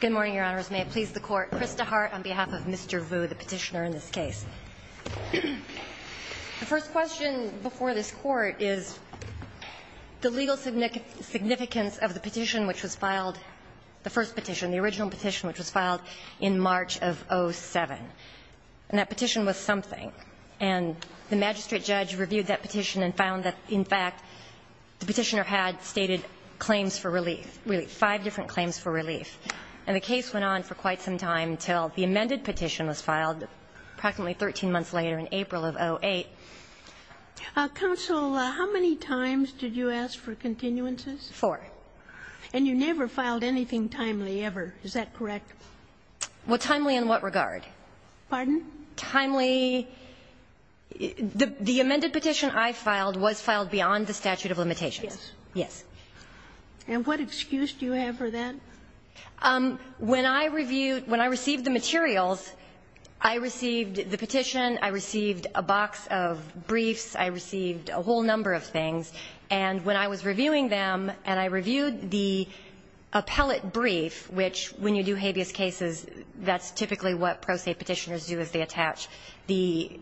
Good morning, Your Honors. May it please the Court, Krista Hart on behalf of Mr. Vu, the petitioner in this case. The first question before this Court is the legal significance of the petition which was filed, the first petition, the original petition which was filed in March of 07. And that petition was something. And the magistrate judge reviewed that petition and found that, in fact, the petitioner had stated claims for relief, really five different claims for relief. And the case went on for quite some time until the amended petition was filed practically 13 months later in April of 08. Counsel, how many times did you ask for continuances? Four. And you never filed anything timely ever, is that correct? Well, timely in what regard? Pardon? Timely. The amended petition I filed was filed beyond the statute of limitations. Yes. And what excuse do you have for that? When I reviewed, when I received the materials, I received the petition, I received a box of briefs, I received a whole number of things. And when I was reviewing them and I reviewed the appellate brief, which when you do habeas cases, that's typically what pro se petitioners do is they attach the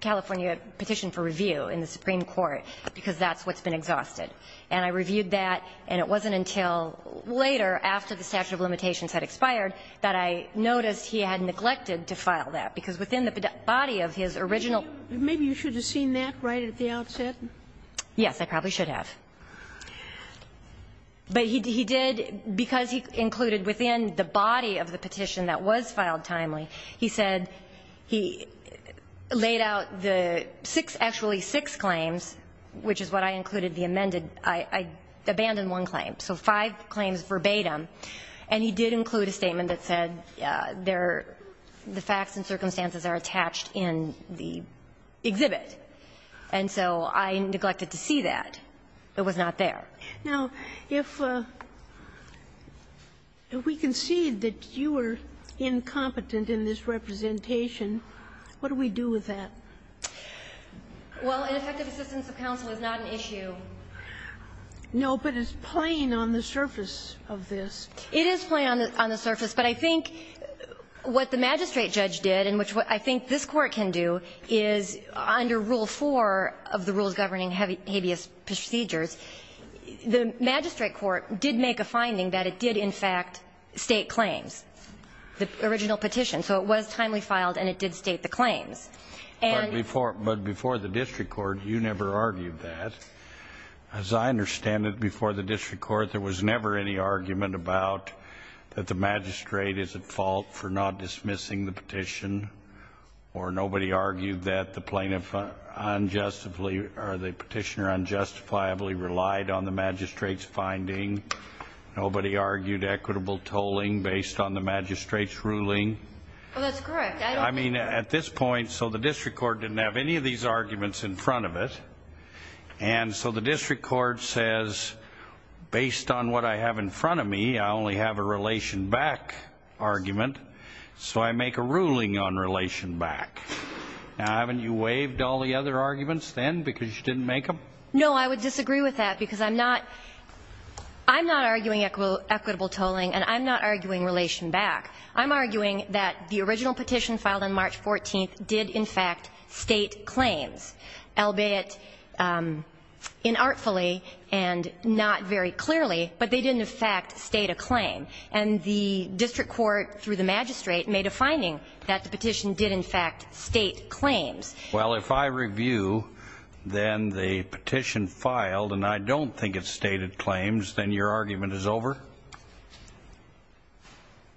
California petition for review in the Supreme Court, because that's what's been exhausted. And I reviewed that, and it wasn't until later, after the statute of limitations had expired, that I noticed he had neglected to file that. Because within the body of his original ---- Maybe you should have seen that right at the outset. Yes. I probably should have. But he did, because he included within the body of the petition that was filed timely, he said he laid out the six, actually six claims, which is what I included, the amended. I abandoned one claim. So five claims verbatim. And he did include a statement that said the facts and circumstances are attached in the exhibit. And so I neglected to see that. It was not there. Now, if we concede that you are incompetent in this representation, what do we do with that? Well, ineffective assistance of counsel is not an issue. No, but it's plain on the surface of this. It is plain on the surface, but I think what the magistrate judge did, and which is what I think this Court can do, is under Rule 4 of the Rules Governing Habeas Procedures, the magistrate court did make a finding that it did in fact state claims, the original petition. So it was timely filed and it did state the claims. And ---- But before the district court, you never argued that. As I understand it, before the district court, there was never any argument about that the magistrate is at fault for not dismissing the petition. Or nobody argued that the plaintiff unjustifiably, or the petitioner unjustifiably relied on the magistrate's finding. Nobody argued equitable tolling based on the magistrate's ruling. Well, that's correct. I don't think ---- I mean, at this point, so the district court didn't have any of these arguments in front of it. And so the district court says, based on what I have in front of me, I only have a relation back argument, so I make a ruling on relation back. Now, haven't you waived all the other arguments then because you didn't make them? No, I would disagree with that because I'm not arguing equitable tolling, and I'm not arguing relation back. I'm arguing that the original petition filed on March 14th did in fact state claims, albeit inartfully and not very clearly, but they didn't in fact state a claim. And the district court, through the magistrate, made a finding that the petition did in fact state claims. Well, if I review, then the petition filed, and I don't think it stated claims, then your argument is over?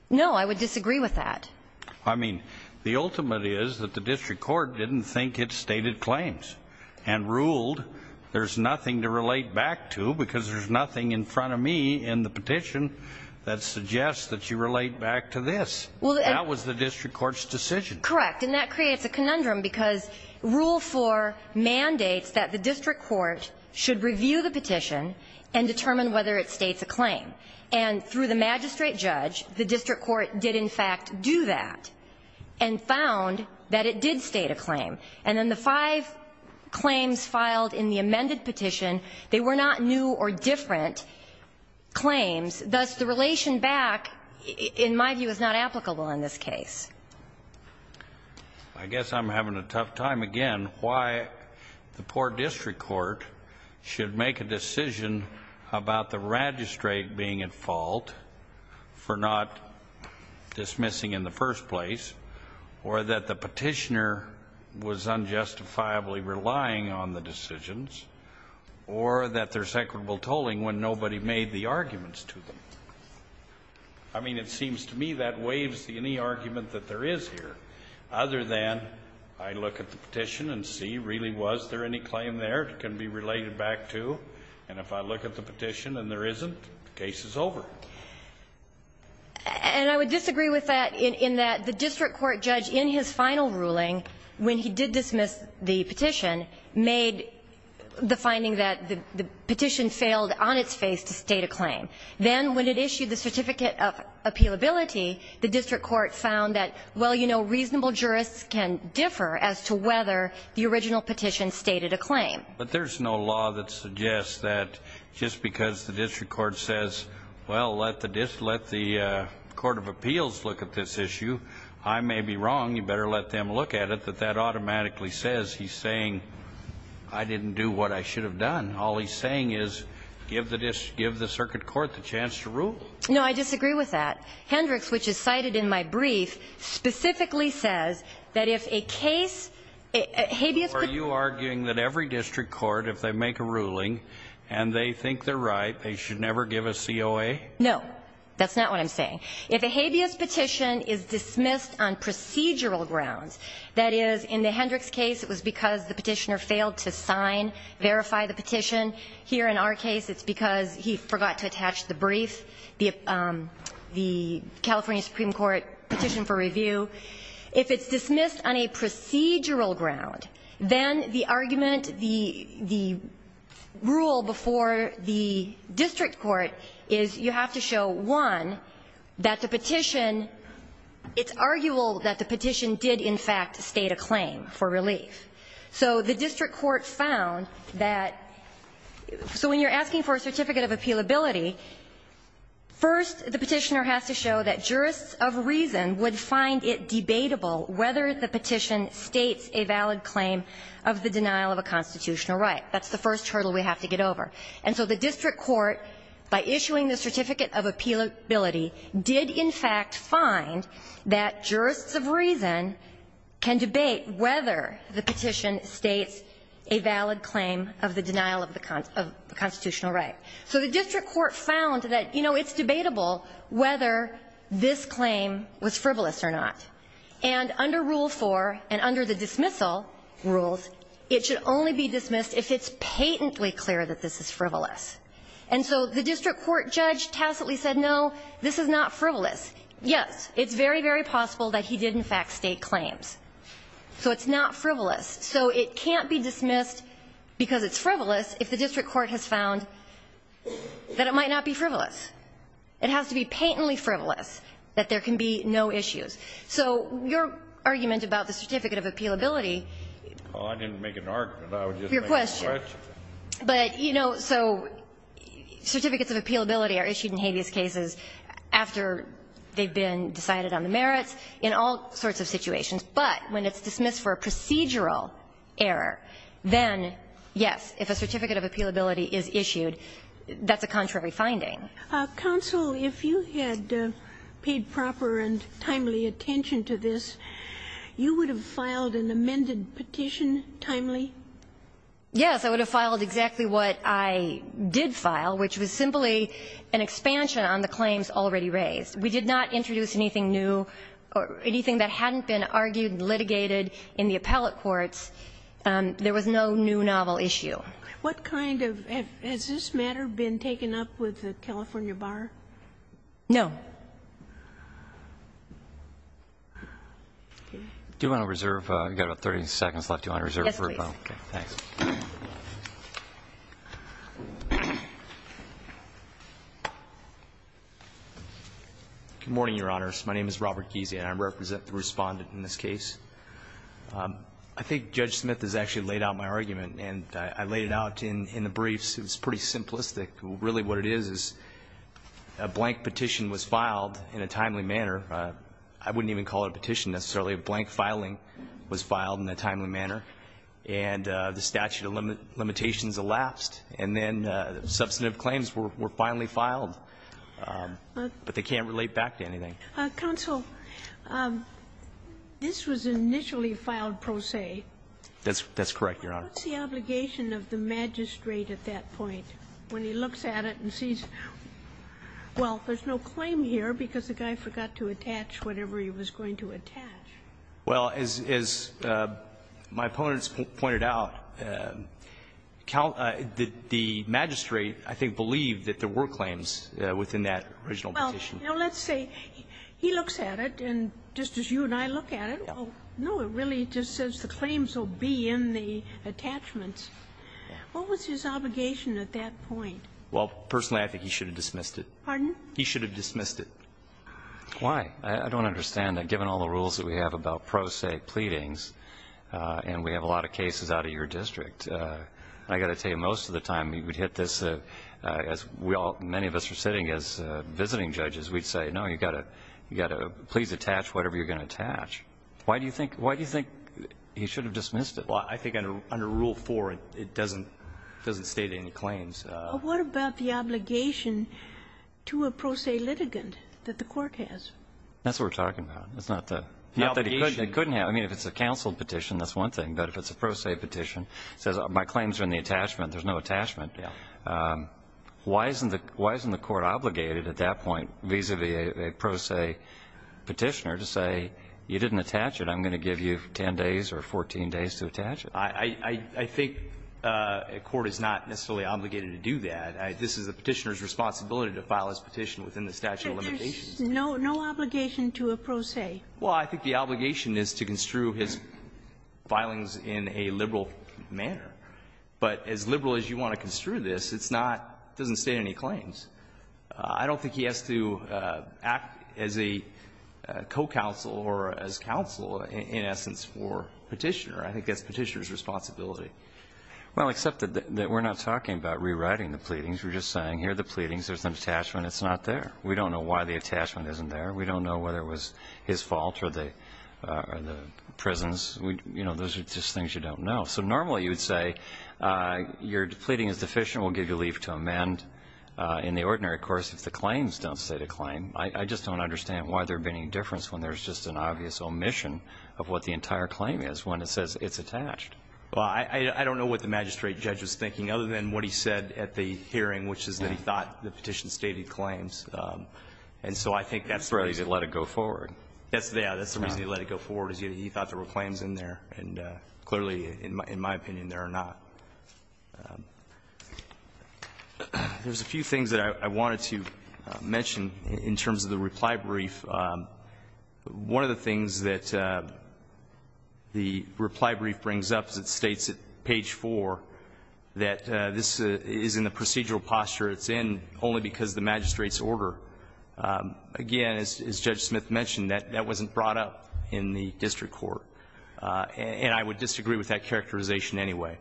No, I would disagree with that. I mean, the ultimate is that the district court didn't think it stated claims and ruled there's nothing to relate back to because there's nothing in front of me in the petition that suggests that you relate back to this. That was the district court's decision. Correct. And that creates a conundrum because Rule 4 mandates that the district court should review the petition and determine whether it states a claim. And through the magistrate judge, the district court did in fact do that and found that it did state a claim. And then the five claims filed in the amended petition, they were not new or different claims, thus the relation back, in my view, is not applicable in this case. I guess I'm having a tough time, again, why the poor district court should make a decision about the magistrate being at fault for not dismissing in the first place, or that the petitioner was unjustifiably relying on the decisions, or that there's equitable tolling when nobody made the arguments to them. I mean, it seems to me that waives any argument that there is here, other than I look at the petition and see really was there any claim there that can be related back to? And if I look at the petition and there isn't, the case is over. And I would disagree with that in that the district court judge in his final ruling, when he did dismiss the petition, made the finding that the petition failed on its face to state a claim. Then when it issued the certificate of appealability, the district court found that, well, you know, reasonable jurists can differ as to whether the original petition stated a claim. But there's no law that suggests that just because the district court says, well, let the court of appeals look at this issue, I may be wrong, you better let them look at it, that that automatically says he's saying, I didn't do what I should have done. All he's saying is give the circuit court the chance to rule. No, I disagree with that. Hendricks, which is cited in my brief, specifically says that if a case, Are you arguing that every district court, if they make a ruling and they think they're right, they should never give a COA? No, that's not what I'm saying. If a habeas petition is dismissed on procedural grounds, that is, in the Hendricks case it was because the petitioner failed to sign, verify the petition. Here in our case it's because he forgot to attach the brief, the California Supreme Court petition for review. If it's dismissed on a procedural ground, then the argument, the rule before the district court is you have to show, one, that the petition, it's arguable that the petition did in fact state a claim for relief. So the district court found that, so when you're asking for a certificate of appealability, first the petitioner has to show that jurists of reason would find it debatable whether the petition states a valid claim of the denial of a constitutional right. That's the first hurdle we have to get over. And so the district court, by issuing the certificate of appealability, did in fact find that jurists of reason can debate whether the petition states a valid claim of the denial of the constitutional right. So the district court found that, you know, it's debatable whether this claim was frivolous or not. And under rule four and under the dismissal rules, it should only be dismissed if it's patently clear that this is frivolous. And so the district court judge tacitly said, no, this is not frivolous. Yes, it's very, very possible that he did in fact state claims. So it's not frivolous. So it can't be dismissed because it's frivolous if the district court has found that it might not be frivolous. It has to be patently frivolous that there can be no issues. So your argument about the certificate of appealability. Well, I didn't make an argument. I would just make a question. Your question. But, you know, so certificates of appealability are issued in habeas cases after they've been decided on the merits in all sorts of situations. That's a contrary finding. Counsel, if you had paid proper and timely attention to this, you would have filed an amended petition timely? Yes, I would have filed exactly what I did file, which was simply an expansion on the claims already raised. We did not introduce anything new or anything that hadn't been argued and litigated in the appellate courts. There was no new novel issue. What kind of ‑‑ has this matter been taken up with the California Bar? No. Do you want to reserve? We've got about 30 seconds left. Do you want to reserve for a moment? Yes, please. Thanks. Good morning, Your Honors. My name is Robert Giese, and I represent the Respondent in this case. I think Judge Smith has actually laid out my argument, and I laid it out in the briefs. It was pretty simplistic. Really what it is is a blank petition was filed in a timely manner. I wouldn't even call it a petition necessarily. A blank filing was filed in a timely manner, and the statute of limitations elapsed, and then substantive claims were finally filed. But they can't relate back to anything. Counsel, this was initially filed pro se. That's correct, Your Honor. But what's the obligation of the magistrate at that point, when he looks at it and sees, well, there's no claim here because the guy forgot to attach whatever he was going to attach? Well, as my opponents pointed out, the magistrate, I think, believed that there were claims within that original petition. Well, let's say he looks at it, and just as you and I look at it, no, it really just says the claims will be in the attachments. What was his obligation at that point? Well, personally, I think he should have dismissed it. Pardon? He should have dismissed it. Why? I don't understand. Given all the rules that we have about pro se pleadings, and we have a lot of cases out of your district, I've got to tell you, most of the time we would hit this as we say, no, you've got to please attach whatever you're going to attach. Why do you think he should have dismissed it? Well, I think under Rule 4, it doesn't state any claims. Well, what about the obligation to a pro se litigant that the Court has? That's what we're talking about. It's not the obligation. Not that he couldn't have. I mean, if it's a counsel petition, that's one thing. But if it's a pro se petition, it says my claims are in the attachment. There's no attachment. Why isn't the Court obligated at that point vis-a-vis a pro se petitioner to say you didn't attach it, I'm going to give you 10 days or 14 days to attach it? I think a court is not necessarily obligated to do that. This is the petitioner's responsibility to file his petition within the statute of limitations. But there's no obligation to a pro se. Well, I think the obligation is to construe his filings in a liberal manner. But as liberal as you want to construe this, it's not doesn't state any claims. I don't think he has to act as a co-counsel or as counsel, in essence, for petitioner. I think that's petitioner's responsibility. Well, except that we're not talking about rewriting the pleadings. We're just saying here are the pleadings. There's an attachment. It's not there. We don't know why the attachment isn't there. We don't know whether it was his fault or the prison's. You know, those are just things you don't know. So normally you would say your pleading is deficient. We'll give you leave to amend. In the ordinary course, if the claims don't state a claim, I just don't understand why there would be any difference when there's just an obvious omission of what the entire claim is when it says it's attached. Well, I don't know what the magistrate judge was thinking, other than what he said at the hearing, which is that he thought the petition stated claims. And so I think that's the reason. That's the reason he let it go forward. That's the reason he let it go forward, is he thought there were claims in there. And clearly, in my opinion, there are not. There's a few things that I wanted to mention in terms of the reply brief. One of the things that the reply brief brings up is it states at page 4 that this is in the procedural posture it's in only because of the magistrate's order. Again, as Judge Smith mentioned, that wasn't brought up in the district court. And I would disagree with that characterization anyway.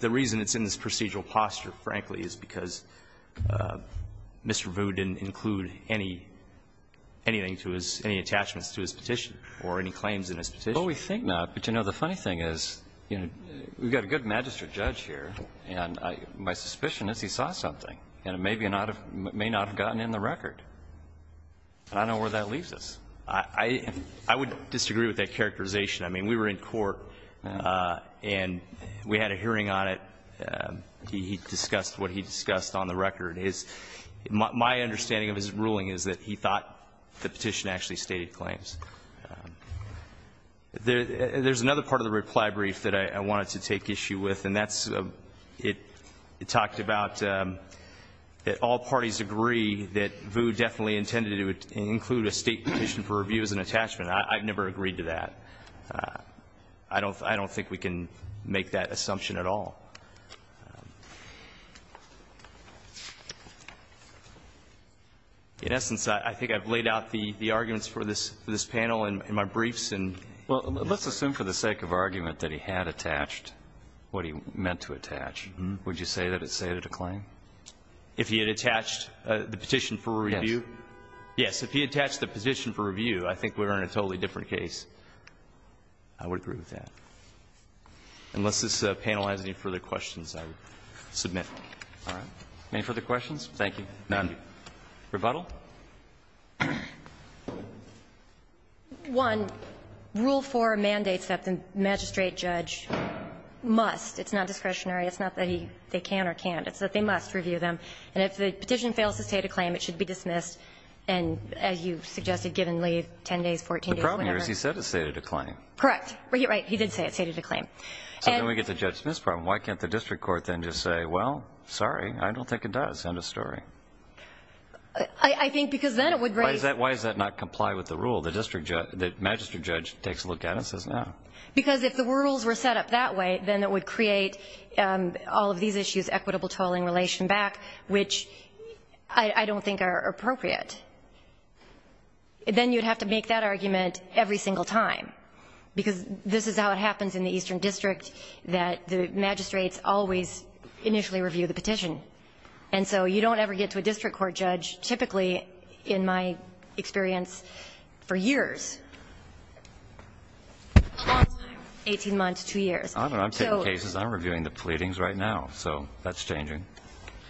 The reason it's in this procedural posture, frankly, is because Mr. Vu didn't include any attachments to his petition or any claims in his petition. Well, we think not. But, you know, the funny thing is, you know, we've got a good magistrate judge here, and my suspicion is he saw something, and it may not have gotten in the record. And I don't know where that leaves us. I would disagree with that characterization. I mean, we were in court, and we had a hearing on it. He discussed what he discussed on the record. My understanding of his ruling is that he thought the petition actually stated claims. There's another part of the reply brief that I wanted to take issue with, and that's it talked about that all parties agree that Vu definitely intended to include a state petition for review as an attachment. I've never agreed to that. I don't think we can make that assumption at all. In essence, I think I've laid out the arguments for this panel in my briefs. Well, let's assume for the sake of argument that he had attached what he meant to attach. Would you say that it stated a claim? If he had attached the petition for review? Yes. If he attached the petition for review, I think we're in a totally different case. I would agree with that. Unless this panel has any further questions, I submit. All right. Any further questions? Thank you. None. Rebuttal? One, Rule 4 mandates that the magistrate judge must. It's not discretionary. It's not that they can or can't. It's that they must review them. And if the petition fails to state a claim, it should be dismissed. And as you suggested, give and leave 10 days, 14 days, whatever. The problem here is he said it stated a claim. Correct. Right. He did say it stated a claim. So then we get the judge-dismiss problem. Why can't the district court then just say, well, sorry, I don't think it does. End of story. I think because then it would raise. Why does that not comply with the rule? The magistrate judge takes a look at it and says no. Because if the rules were set up that way, then it would create all of these issues, equitable tolling, relation back. Which I don't think are appropriate. Then you would have to make that argument every single time. Because this is how it happens in the Eastern District, that the magistrates always initially review the petition. And so you don't ever get to a district court judge, typically, in my experience, for years. Long time. Eighteen months, two years. I'm taking cases. I'm reviewing the pleadings right now. So that's changing.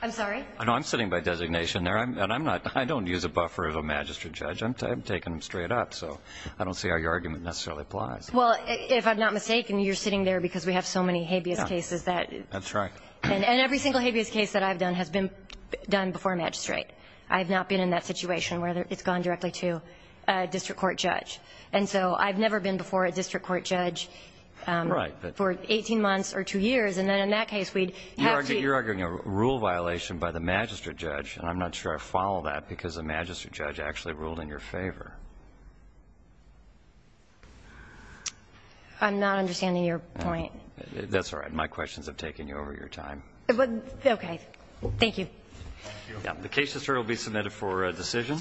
I'm sorry? No, I'm sitting by designation there. And I'm not. I don't use a buffer of a magistrate judge. I'm taking them straight up. So I don't see how your argument necessarily applies. Well, if I'm not mistaken, you're sitting there because we have so many habeas cases that. That's right. And every single habeas case that I've done has been done before a magistrate. I have not been in that situation where it's gone directly to a district court judge. And so I've never been before a district court judge for 18 months or two years. And then in that case, we'd have to. You're arguing a rule violation by the magistrate judge. And I'm not sure I follow that because the magistrate judge actually ruled in your favor. I'm not understanding your point. That's all right. My questions have taken you over your time. Okay. Thank you. The case will be submitted for decision.